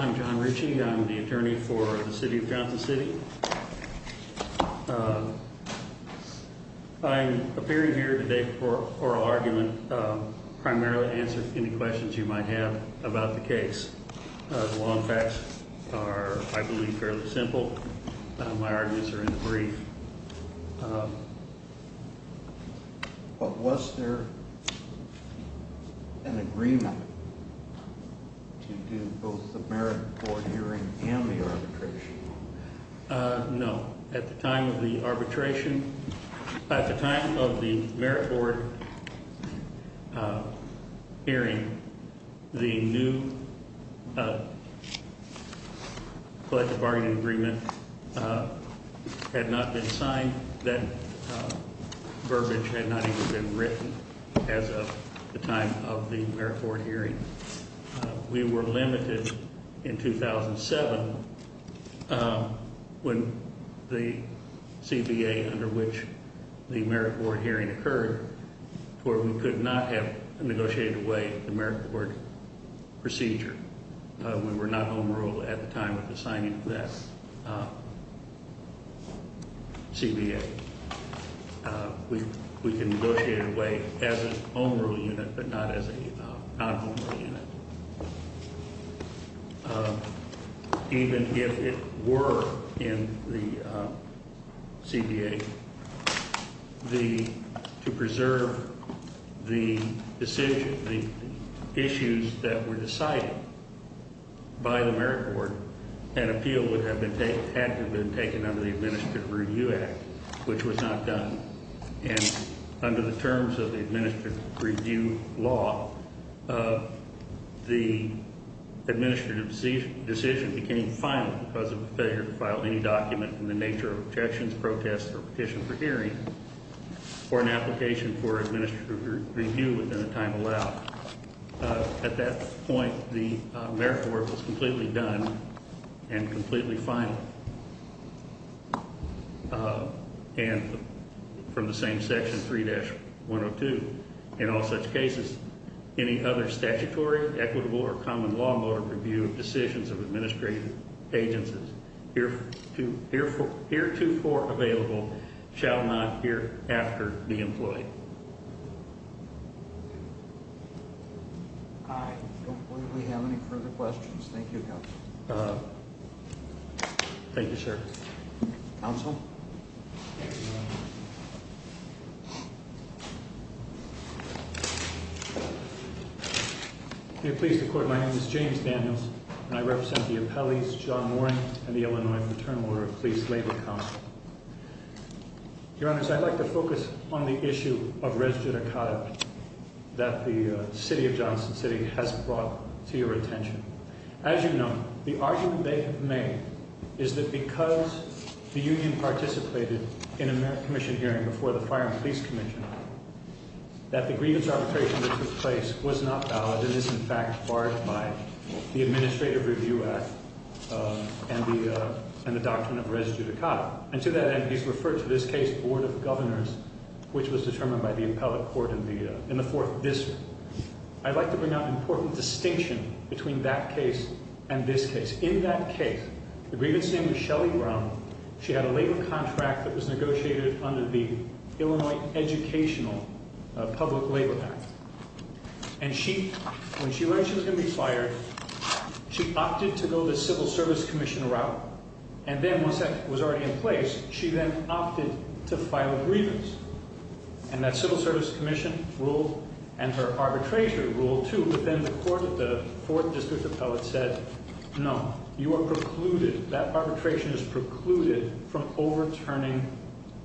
I'm John Ritchie. I'm the attorney for the City of Johnston City. I'm appearing here today for a oral argument, primarily to answer any questions you might have about the case. The law and facts are, I believe, fairly simple. My arguments are in the brief. But was there an agreement to do both the merit court hearing and the arbitration? No. At the time of the merit board hearing, the new collective bargaining agreement had not been signed. That verbiage had not even been written as of the time of the merit board hearing. We were limited in 2007 when the merit board hearing occurred, where we could not have negotiated away the merit board procedure. We were not home rule at the time of the signing of that CBA. We can negotiate it away as a home rule unit, but not as a non-home rule unit. Even if it were in the CBA, to preserve the issues that were decided by the merit board, an appeal had to have been taken under the administrative review law. The administrative decision became final because of the failure to file any document in the nature of objections, protests, or petition for hearing or an application for administrative review within the time allowed. At that point, the merit board was completely done and In all such cases, any other statutory, equitable, or common law mode of review of decisions of administrative agencies heretofore available shall not hereafter be employed. I don't believe we have any further questions. Thank you, counsel. Thank you, sir. Counsel? May it please the court, my name is James Daniels, and I represent the appellees John Warren and the Illinois Fraternal Order of Police Lady Connell. Your Honor, I'd like to focus on the issue of res judicata that the city of Johnson City has brought to your attention. As you know, the argument they have made is that because the union participated in a merit commission hearing before the Fire and Police Commission, that the grievance arbitration that took place was not valid and is in fact barred by the Administrative Review Act and the doctrine of res judicata. And to that end, he's referred to this case, Board of Governors, which was determined by the appellate court in the fourth district. I'd like to bring out an important distinction between that case and this case. In that case, the grievance name was Shelly Brown. She had a labor contract that was negotiated under the Illinois Educational Public Labor Act. And when she registered to be fired, she opted to go the Civil Service Commission route, and then once that was already in place, she then opted to file a grievance. And that Civil Service Commission rule and her arbitration rule, too, but then the court of the fourth district appellate said, no, you are precluded. That arbitration is precluded from overturning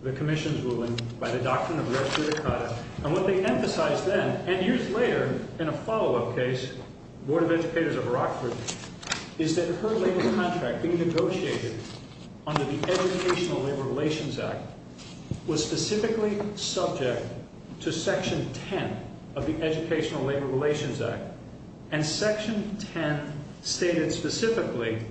the commission's ruling by the doctrine of res judicata. And what they emphasized then, and years later, in a follow-up case, Board of Educators of Rockford, is that her labor contract being negotiated under the Educational Labor Relations Act was specifically subject to section 10 of the Educational Labor Relations Act. And section 10 stated specifically,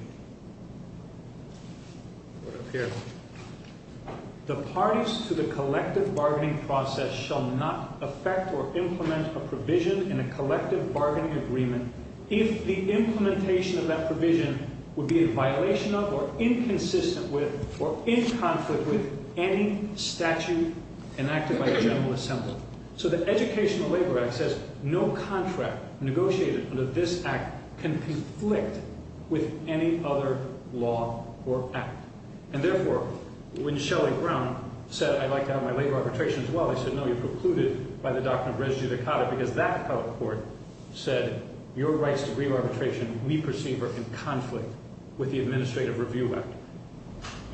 The parties to the collective bargaining process shall not affect or implement a provision in a collective bargaining agreement if the implementation of that provision would be in violation of or inconsistent with or in conflict with any statute enacted by the General Assembly. So the Educational Labor Act says no contract negotiated under this act can conflict with any statute enacted by the General Assembly. Any other law or act. And therefore, when Shelley Brown said, I'd like to have my labor arbitration as well, they said, no, you're precluded by the doctrine of res judicata because that appellate court said, your rights to grieve arbitration, me perceiver, in conflict with the Administrative Review Act.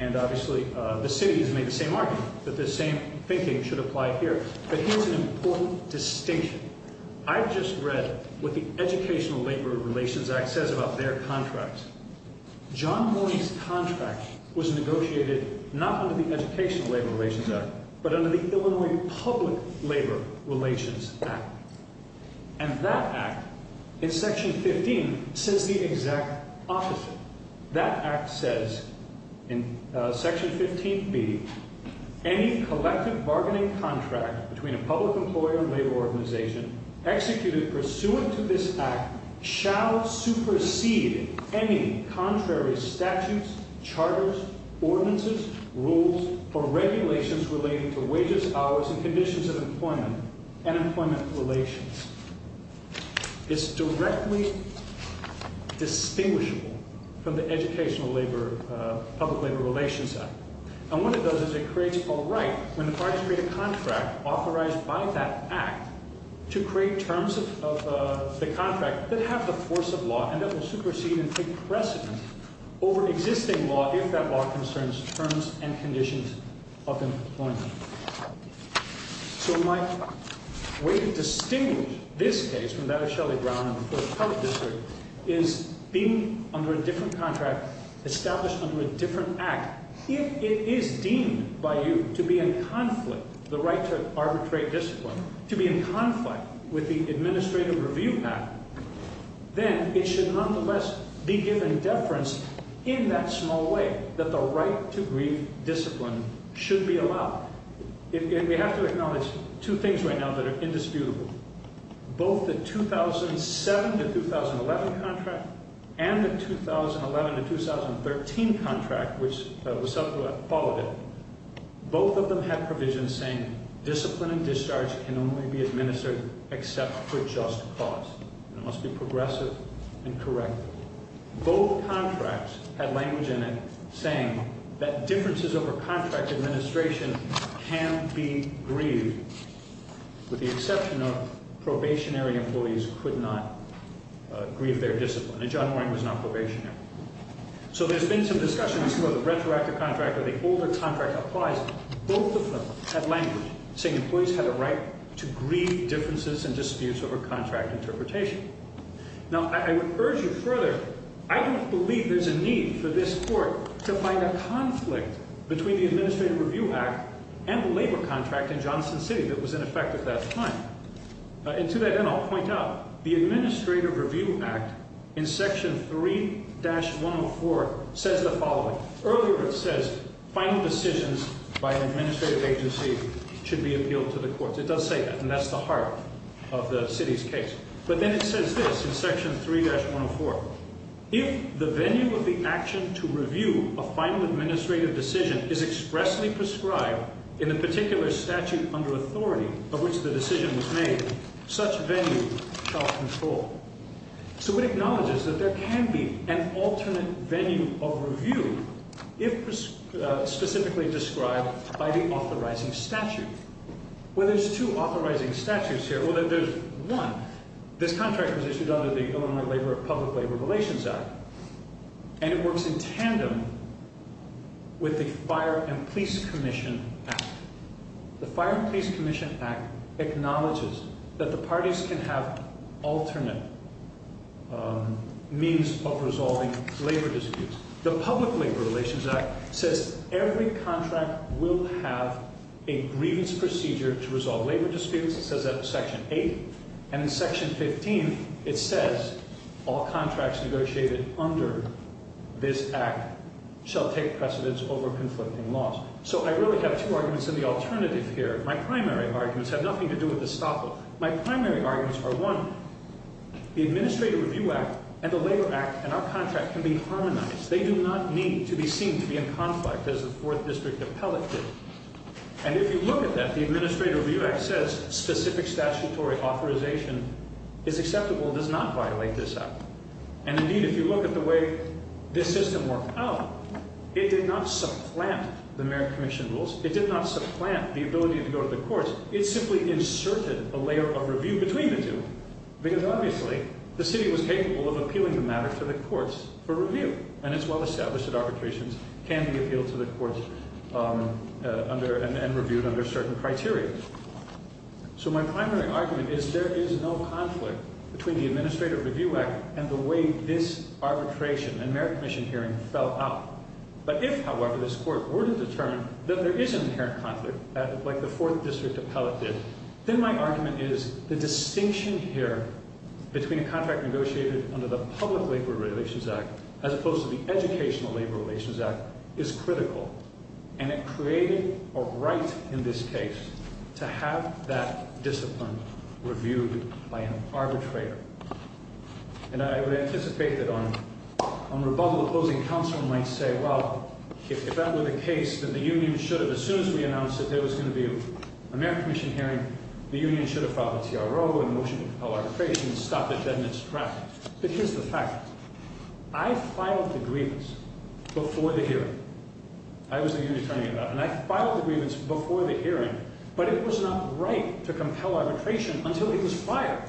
And obviously, the city has made the same argument that the same thinking should apply here. But here's an important distinction. I've just read what the Educational Labor Relations Act says about their contracts. John Mooney's contract was negotiated not under the Educational Labor Relations Act, but under the Illinois Public Labor Relations Act. And that act, in section 15, says the exact opposite. That act says, in section 15B, any collective bargaining contract between a public employer and labor organization executed pursuant to this act shall supersede any contrary statutes, charters, ordinances, rules, or regulations relating to wages, hours, and conditions of employment and employment relations. It's directly distinguishable from the Educational Public Labor Relations Act. And what it does is it creates a right, when the parties create a contract authorized by that act, to create terms of the contract that have the force of law and that will supersede and take precedent over existing law if that law concerns terms and conditions of employment. So my way to distinguish this case from that of Shelly Brown and the Fourth Health District is being under a different contract, established under a different act. If it is deemed by you to be in conflict, the right to arbitrate discipline, to be in conflict with the administrative review path, then it should nonetheless be given deference in that small way, that the right to grieve discipline should be allowed. And we have to acknowledge two things right now that are indisputable. Both the 2007-2011 contract and the 2011-2013 contract, which was followed, both of them had provisions saying discipline and discharge can only be administered except for just cause. It must be progressive and correct. Both contracts had language in it saying that differences over contract administration can be grieved, with the exception of probationary employees could not grieve their discipline. And John Warren was not probationary. So there's been some discussion as to whether the retroactive contract or the older contract applies. Both of them had language saying employees had a right to grieve differences and disputes over contract interpretation. Now I would urge you further, I don't believe there's a need for this and the labor contract in Johnson City that was in effect at that time. And to that end, I'll point out the Administrative Review Act in section 3-104 says the following. Earlier it says final decisions by an administrative agency should be appealed to the courts. It does say that and that's the heart of the city's case. But then it says this in section 3-104, if the venue of the action to review a final decision is expressly prescribed in the particular statute under authority of which the decision was made, such venue shall control. So it acknowledges that there can be an alternate venue of review if specifically described by the authorizing statute. Well there's two authorizing statutes here. Well there's one, this contract was issued under the Illinois Public Labor Relations Act and it works in tandem with the Fire and Police Commission Act. The Fire and Police Commission Act acknowledges that the parties can have alternate means of resolving labor disputes. The Public Labor Relations Act says every contract will have a grievance procedure to resolve labor under this act shall take precedence over conflicting laws. So I really have two arguments in the alternative here. My primary arguments have nothing to do with the Staple. My primary arguments are one, the Administrative Review Act and the Labor Act and our contract can be harmonized. They do not need to be seen to be in conflict as the 4th District Appellate did. And if you look at that, the Administrative Review Act says specific statutory authorization is acceptable and does not violate this act. And indeed if you look at the way this system worked out, it did not supplant the Merrick Commission rules. It did not supplant the ability to go to the courts. It simply inserted a layer of review between the two because obviously the city was capable of appealing the matter to the courts for review and it's well established that arbitrations can be appealed to the courts and reviewed under certain criteria. So my primary argument is there is no conflict between the Administrative Review Act and the way this arbitration and Merrick Commission hearing fell out. But if however this court were to determine that there is an inherent conflict like the 4th District Appellate did, then my argument is the distinction here between a contract negotiated under the Public Labor Relations Act as opposed to the Educational Labor Relations Act is critical. And it created a right in this case to have that discipline reviewed by an arbitrator. And I would anticipate that on rebuttal, the closing counsel might say, well, if that were the case, then the union should have, as soon as we announced that there was going to be a Merrick Commission hearing, the union should have filed a TRO, a motion to before the hearing. I was the union attorney at that time. And I filed the grievance before the hearing, but it was not right to compel arbitration until he was fired.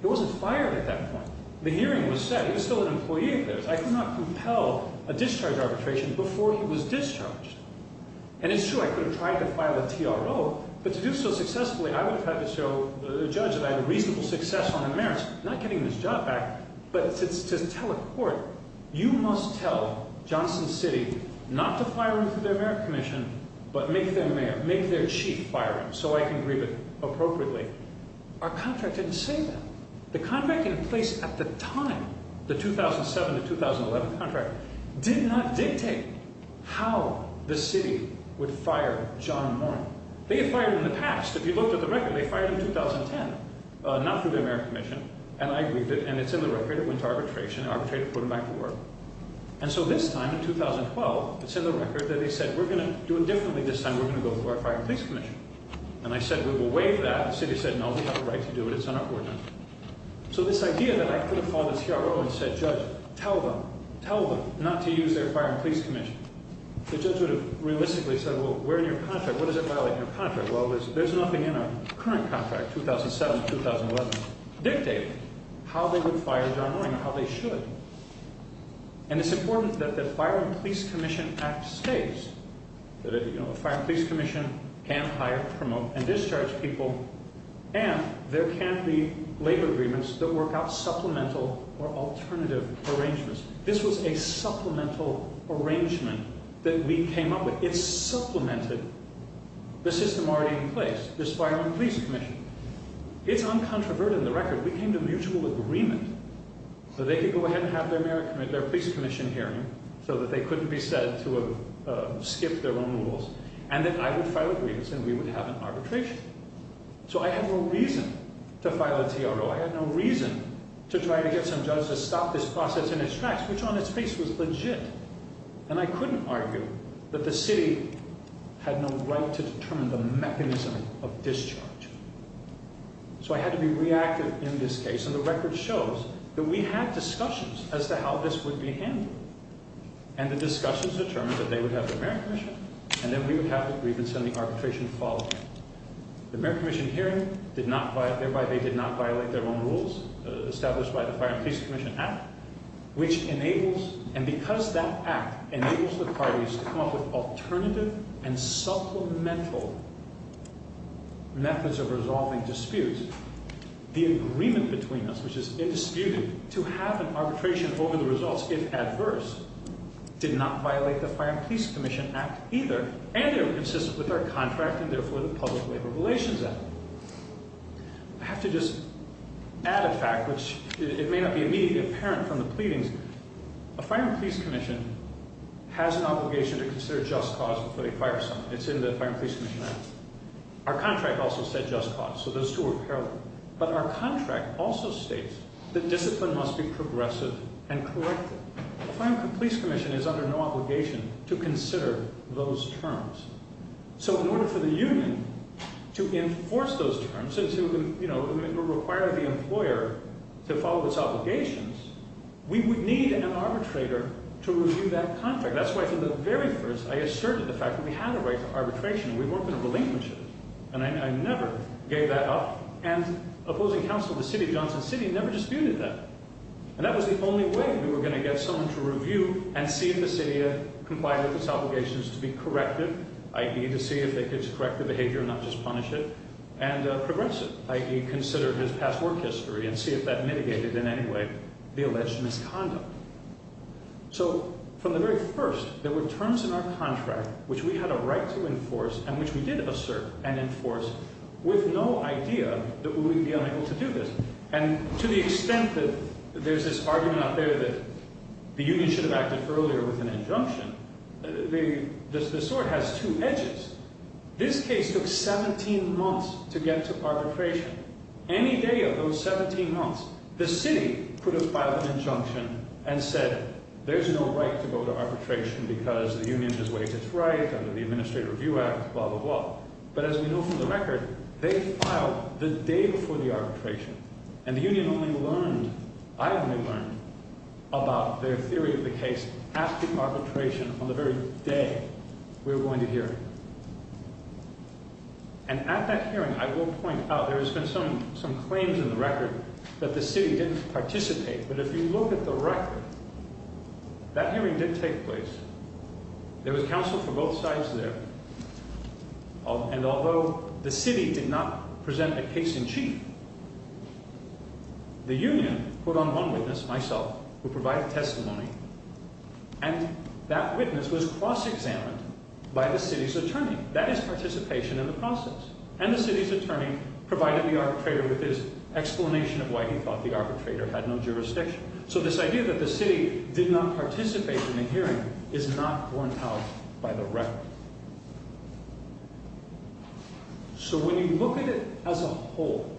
He wasn't fired at that point. The hearing was set. He was still an employee of theirs. I could not compel a discharge arbitration before he was discharged. And it's true, I could have tried to file a TRO, but to do so successfully, I would have had to show the judge that I had a reasonable success on the merits, not getting this job back. But to tell a court, you must tell Johnson City not to fire him through the Merrick Commission, but make their mayor, make their chief fire him so I can grieve it appropriately. Our contract didn't say that. The contract in place at the time, the 2007 to 2011 contract, did not dictate how the city would fire John Morney. They had fired him in the past. If you believe it, and it's in the record, it went to arbitration. Arbitrator put him back to work. And so this time in 2012, it's in the record that he said, we're going to do it differently this time. We're going to go for our Fire and Police Commission. And I said, we will waive that. The city said, no, we have a right to do it. It's on our ordinance. So this idea that I could have filed a TRO and said, judge, tell them, tell them not to use their Fire and Police Commission. The judge would have realistically said, well, where in your contract, what does it violate in your contract? Well, there's nothing in our current contract, 2007 to 2011, dictate how they would fire John Morney or how they should. And it's important that the Fire and Police Commission Act states that a Fire and Police Commission can't hire, promote, and discharge people. And there can't be labor agreements that work out supplemental or alternative arrangements. This was a supplemental arrangement that we came up with. It's supplemented the system already in place, this Fire and Police Commission. It's uncontroverted in the record. We came to mutual agreement so they could go ahead and have their merit, their police commission hearing so that they couldn't be said to have skipped their own rules. And then I would file a grievance and we would have an arbitration. So I have no reason to file a TRO. I had no reason to try to get some judge to stop this process in its tracks, which on its face was legit. And I couldn't argue that the city had no right to determine the mechanism of discharge. So I had to be reactive in this case. And the record shows that we had discussions as to how this would be handled. And the discussions determined that they would have the merit commission, and then we would have the grievance and the arbitration following. The merit commission hearing did not, thereby they did not violate their own rules established by Fire and Police Commission Act, which enables, and because that act enables the parties to come up with alternative and supplemental methods of resolving disputes, the agreement between us, which is indisputed, to have an arbitration over the results, if adverse, did not violate the Fire and Police Commission Act either. And they were consistent with our contract and therefore the may not be immediately apparent from the pleadings. The Fire and Police Commission has an obligation to consider just cause before they fire someone. It's in the Fire and Police Commission Act. Our contract also said just cause, so those two are parallel. But our contract also states that discipline must be progressive and corrective. The Fire and Police Commission is under no obligation to consider those terms. So in order for the union to enforce those terms, you know, to require the employer to follow its obligations, we would need an arbitrator to review that contract. That's why from the very first, I asserted the fact that we had a right to arbitration. We worked in a relinquishes, and I never gave that up. And opposing counsel of the city of Johnson City never disputed that. And that was the only way we were going to get someone to review and see if the city complied with its obligations to be corrected, i.e. to see if it's corrective behavior and not just punish it, and progressive, i.e. consider his past work history and see if that mitigated in any way the alleged misconduct. So from the very first, there were terms in our contract which we had a right to enforce and which we did assert and enforce with no idea that we would be unable to do this. And to the extent that there's this argument out there that the union should have acted earlier with an injunction, the sword has two edges. This case took 17 months to get to arbitration. Any day of those 17 months, the city could have filed an injunction and said there's no right to go to arbitration because the union has waived its right under the Administrative Review Act, blah, blah, blah. But as we know from the record, they filed the day before the arbitration. And the union only learned, I only learned, about their theory of the case after arbitration on the very day we were going to hear it. And at that hearing, I will point out, there has been some claims in the record that the city didn't participate. But if you look at the record, that hearing did take place. There was counsel for both sides there. And although the city did not present a case in chief, the union put on one witness, myself, who provided testimony, and that witness was cross-examined by the city's attorney. That is participation in the process. And the city's attorney provided the arbitrator with his explanation of why he thought the arbitrator had no jurisdiction. So this idea that the city did not participate in the hearing is not borne out by the record. So when you look at it as a whole,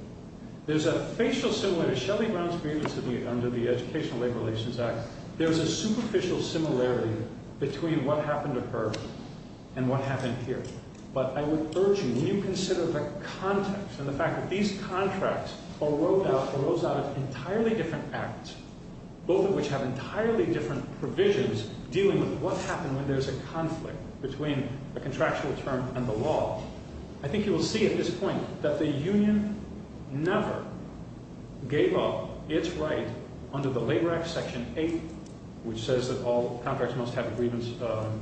there's a facial similarity. Shelley Brown's grievance under the Educational Labor Relations Act, there's a superficial similarity between what happened to her and what happened here. But I would urge you, when you consider the context and the fact that these contracts arose out of entirely different acts, both of which have entirely different provisions dealing with what happened when there's a conflict between a contractual term and the law, I think you will see at this point that the union never gave up its right under the Labor Act Section 8, which says that all contracts must have a grievance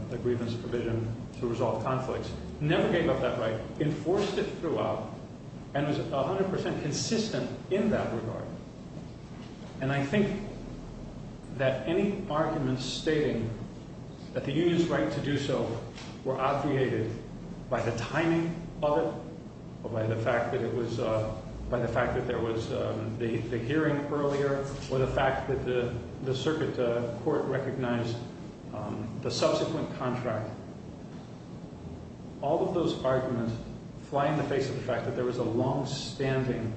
provision to resolve conflicts, never gave up that right, enforced it throughout, and was 100% consistent in that regard. And I think that any argument stating that the union's right to do so were obviated by the timing of it, or by the fact that there was the hearing earlier, or the fact that the circuit court recognized the subsequent contract. All of those arguments fly in the face of the fact that there was a longstanding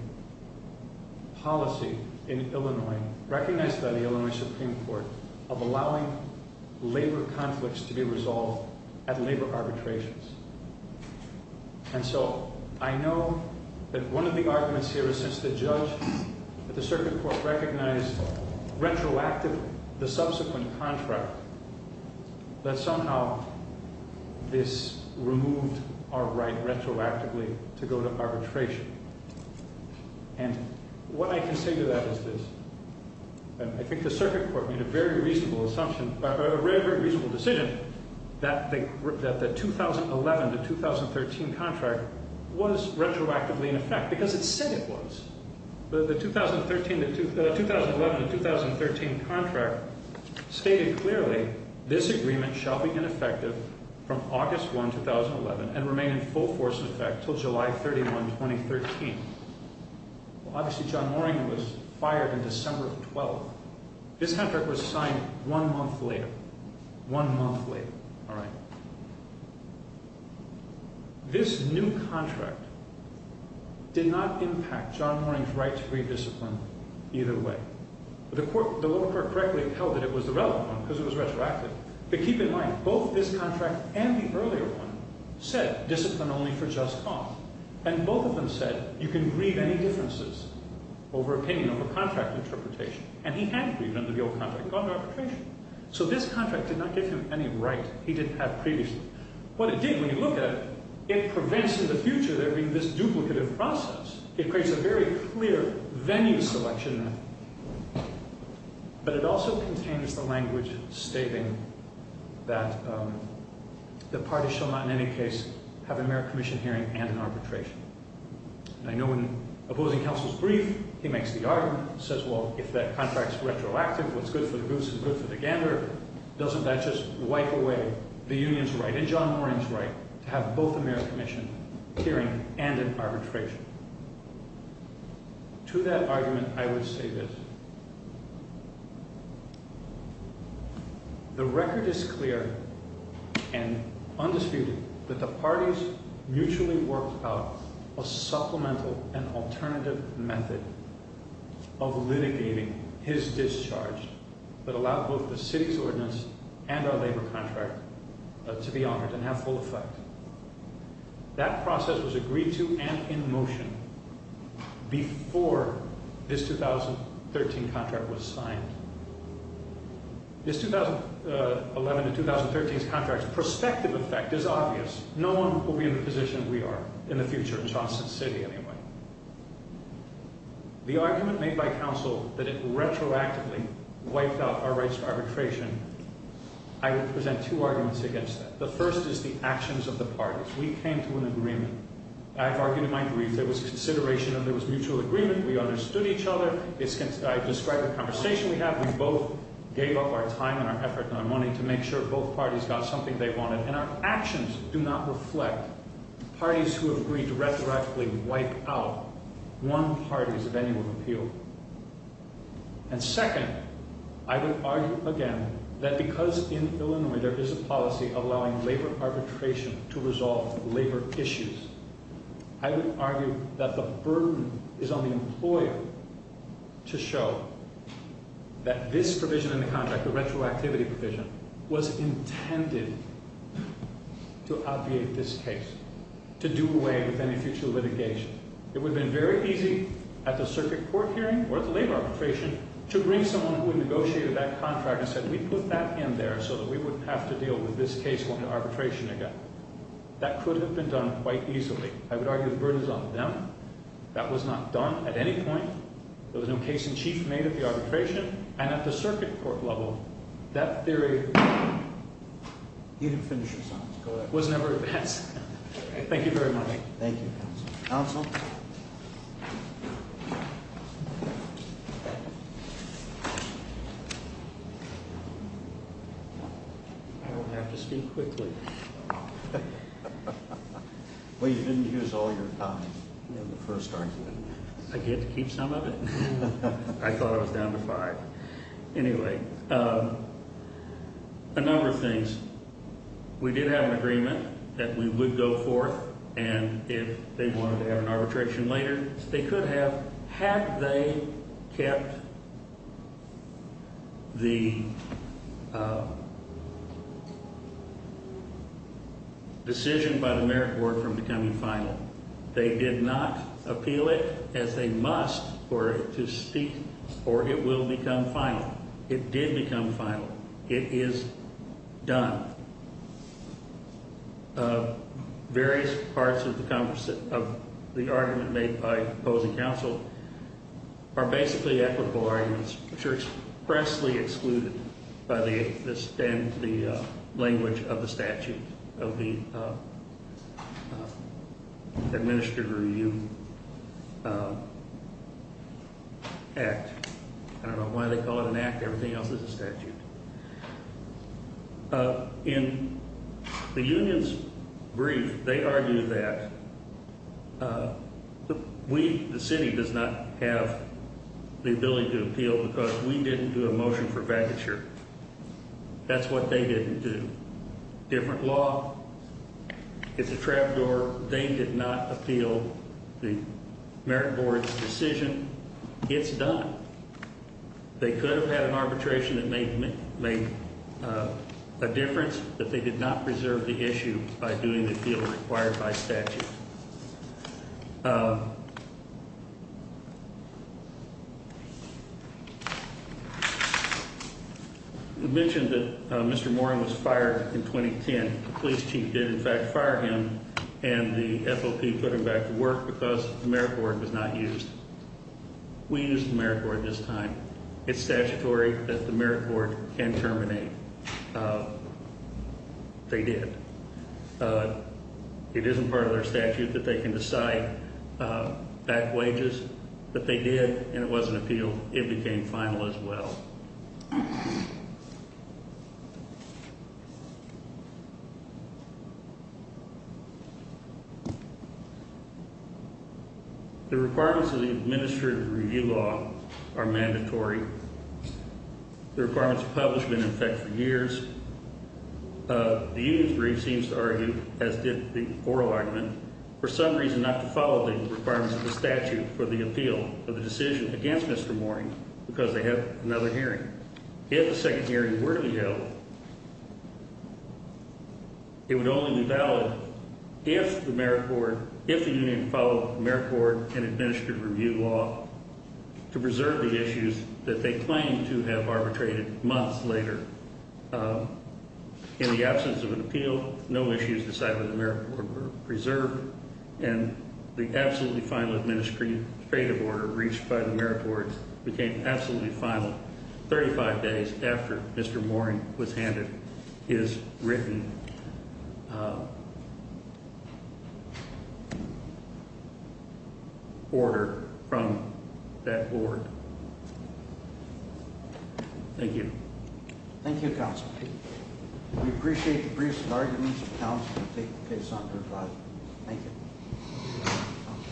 policy in Illinois, recognized by the Illinois Supreme Court, of allowing labor conflicts to be resolved at labor arbitrations. And so I know that one of the arguments here is since the judge at the circuit court recognized retroactively the subsequent contract, that somehow this removed our right retroactively to go to arbitration. And what I can say to that is this. I think the that the 2011 to 2013 contract was retroactively in effect, because it said it was. The 2011 to 2013 contract stated clearly, this agreement shall be ineffective from August 1, 2011, and remain in full force in effect till July 31, 2013. Obviously, John Mooring was fired in December of 12. This contract was signed one month later. One month later, all right. This new contract did not impact John Mooring's right to grieve discipline either way. The lower court correctly held that it was the relevant one, because it was retroactive. But keep in mind, both this contract and the earlier one said discipline only for just cause. And both of them said you can grieve any differences over opinion, over contract interpretation. And he had grieved under the old contract and gone to arbitration. So this contract did not give him any right he didn't have previously. What it did, when you look at it, it prevents in the future there being this duplicative process. It creates a very clear venue selection. But it also contains the language stating that the party shall not in any case have a mere commission hearing and arbitration. And I know in opposing counsel's brief, he makes the argument, says, well, if that contract's retroactive, what's good for the goose is good for the gander. Doesn't that just wipe away the union's right and John Mooring's right to have both a mere commission hearing and an arbitration? To that argument, I would say this. The record is clear and undisputed that the parties mutually worked out a supplemental and alternative method of litigating his discharge that allowed both the city's ordinance and our labor contract to be honored and have full effect. That process was agreed to and in motion before this 2013 contract was signed. This 2011 to 2013 contract's prospective effect is obvious. No one will be in the position we are in the future, in Charleston City anyway. The argument made by counsel that it retroactively wiped out our rights to arbitration, I would present two arguments against that. The first is the actions of the parties. We came to an agreement. I've argued in my brief there was consideration and there was mutual agreement. We understood each other. I've described the gave up our time and our effort and our money to make sure both parties got something they wanted and our actions do not reflect parties who have agreed to retroactively wipe out one party's of any one appeal. And second, I would argue again that because in Illinois there is a policy allowing labor arbitration to resolve labor issues, I would argue that the burden is on the employer to show that this provision in the contract, the retroactivity provision, was intended to obviate this case, to do away with any future litigation. It would have been very easy at the circuit court hearing or at the labor arbitration to bring someone who negotiated that contract and said we put that in there so that we wouldn't have to deal with this case going to arbitration again. That could have been done quite easily. I would argue the burden is on them. That was not done at any point. There was no case in chief made at the arbitration and at the circuit court level. That theory was never advanced. Thank you very much. The first argument. I get to keep some of it? I thought I was down to five. Anyway, a number of things. We did have an agreement that we would go forth and if they wanted to have an arbitration later, they could have had they kept the decision by the merit board from becoming final. They did not appeal it as they must for it to speak or it will become final. It did become final. It is done. Various parts of the argument made by opposing counsel are basically equitable arguments which are expressly excluded by the language of the statute of the administered review act. I don't know why they call it an act. Everything else is a statute. In the union's brief, they argue that the city does not have the ability to appeal because we have a law. It's a trap door. They did not appeal the merit board's decision. It's done. They could have had an arbitration that made a difference, but they did not preserve the issue by doing the deal required by statute. You mentioned that Mr. Moran was fired in 2010. The police chief did in fact fire him and the FOP put him back to work because the merit board was not used. We used the merit board this time. It's statutory that the merit board can terminate. They did. It isn't part of their statute that they can decide back wages, but they did and it wasn't appealed. It became final as well. The requirements of the administrative review law are mandatory. The requirements of the statute are mandatory. The union's brief seems to argue, as did the oral argument, for some reason not to follow the requirements of the statute for the appeal of the decision against Mr. Moran because they have another hearing. If a second hearing were to be held, it would only be valid if the union followed the merit board and administrative review law to preserve the issues that they claim to have arbitrated months later. In the absence of an appeal, no issues decided by the merit board were preserved and the absolutely final administrative order reached by the merit board became absolutely final 35 days after Mr. Moran was handed his written uh order from that board. Thank you. Thank you, counsel. We appreciate the briefs of arguments. Thank you.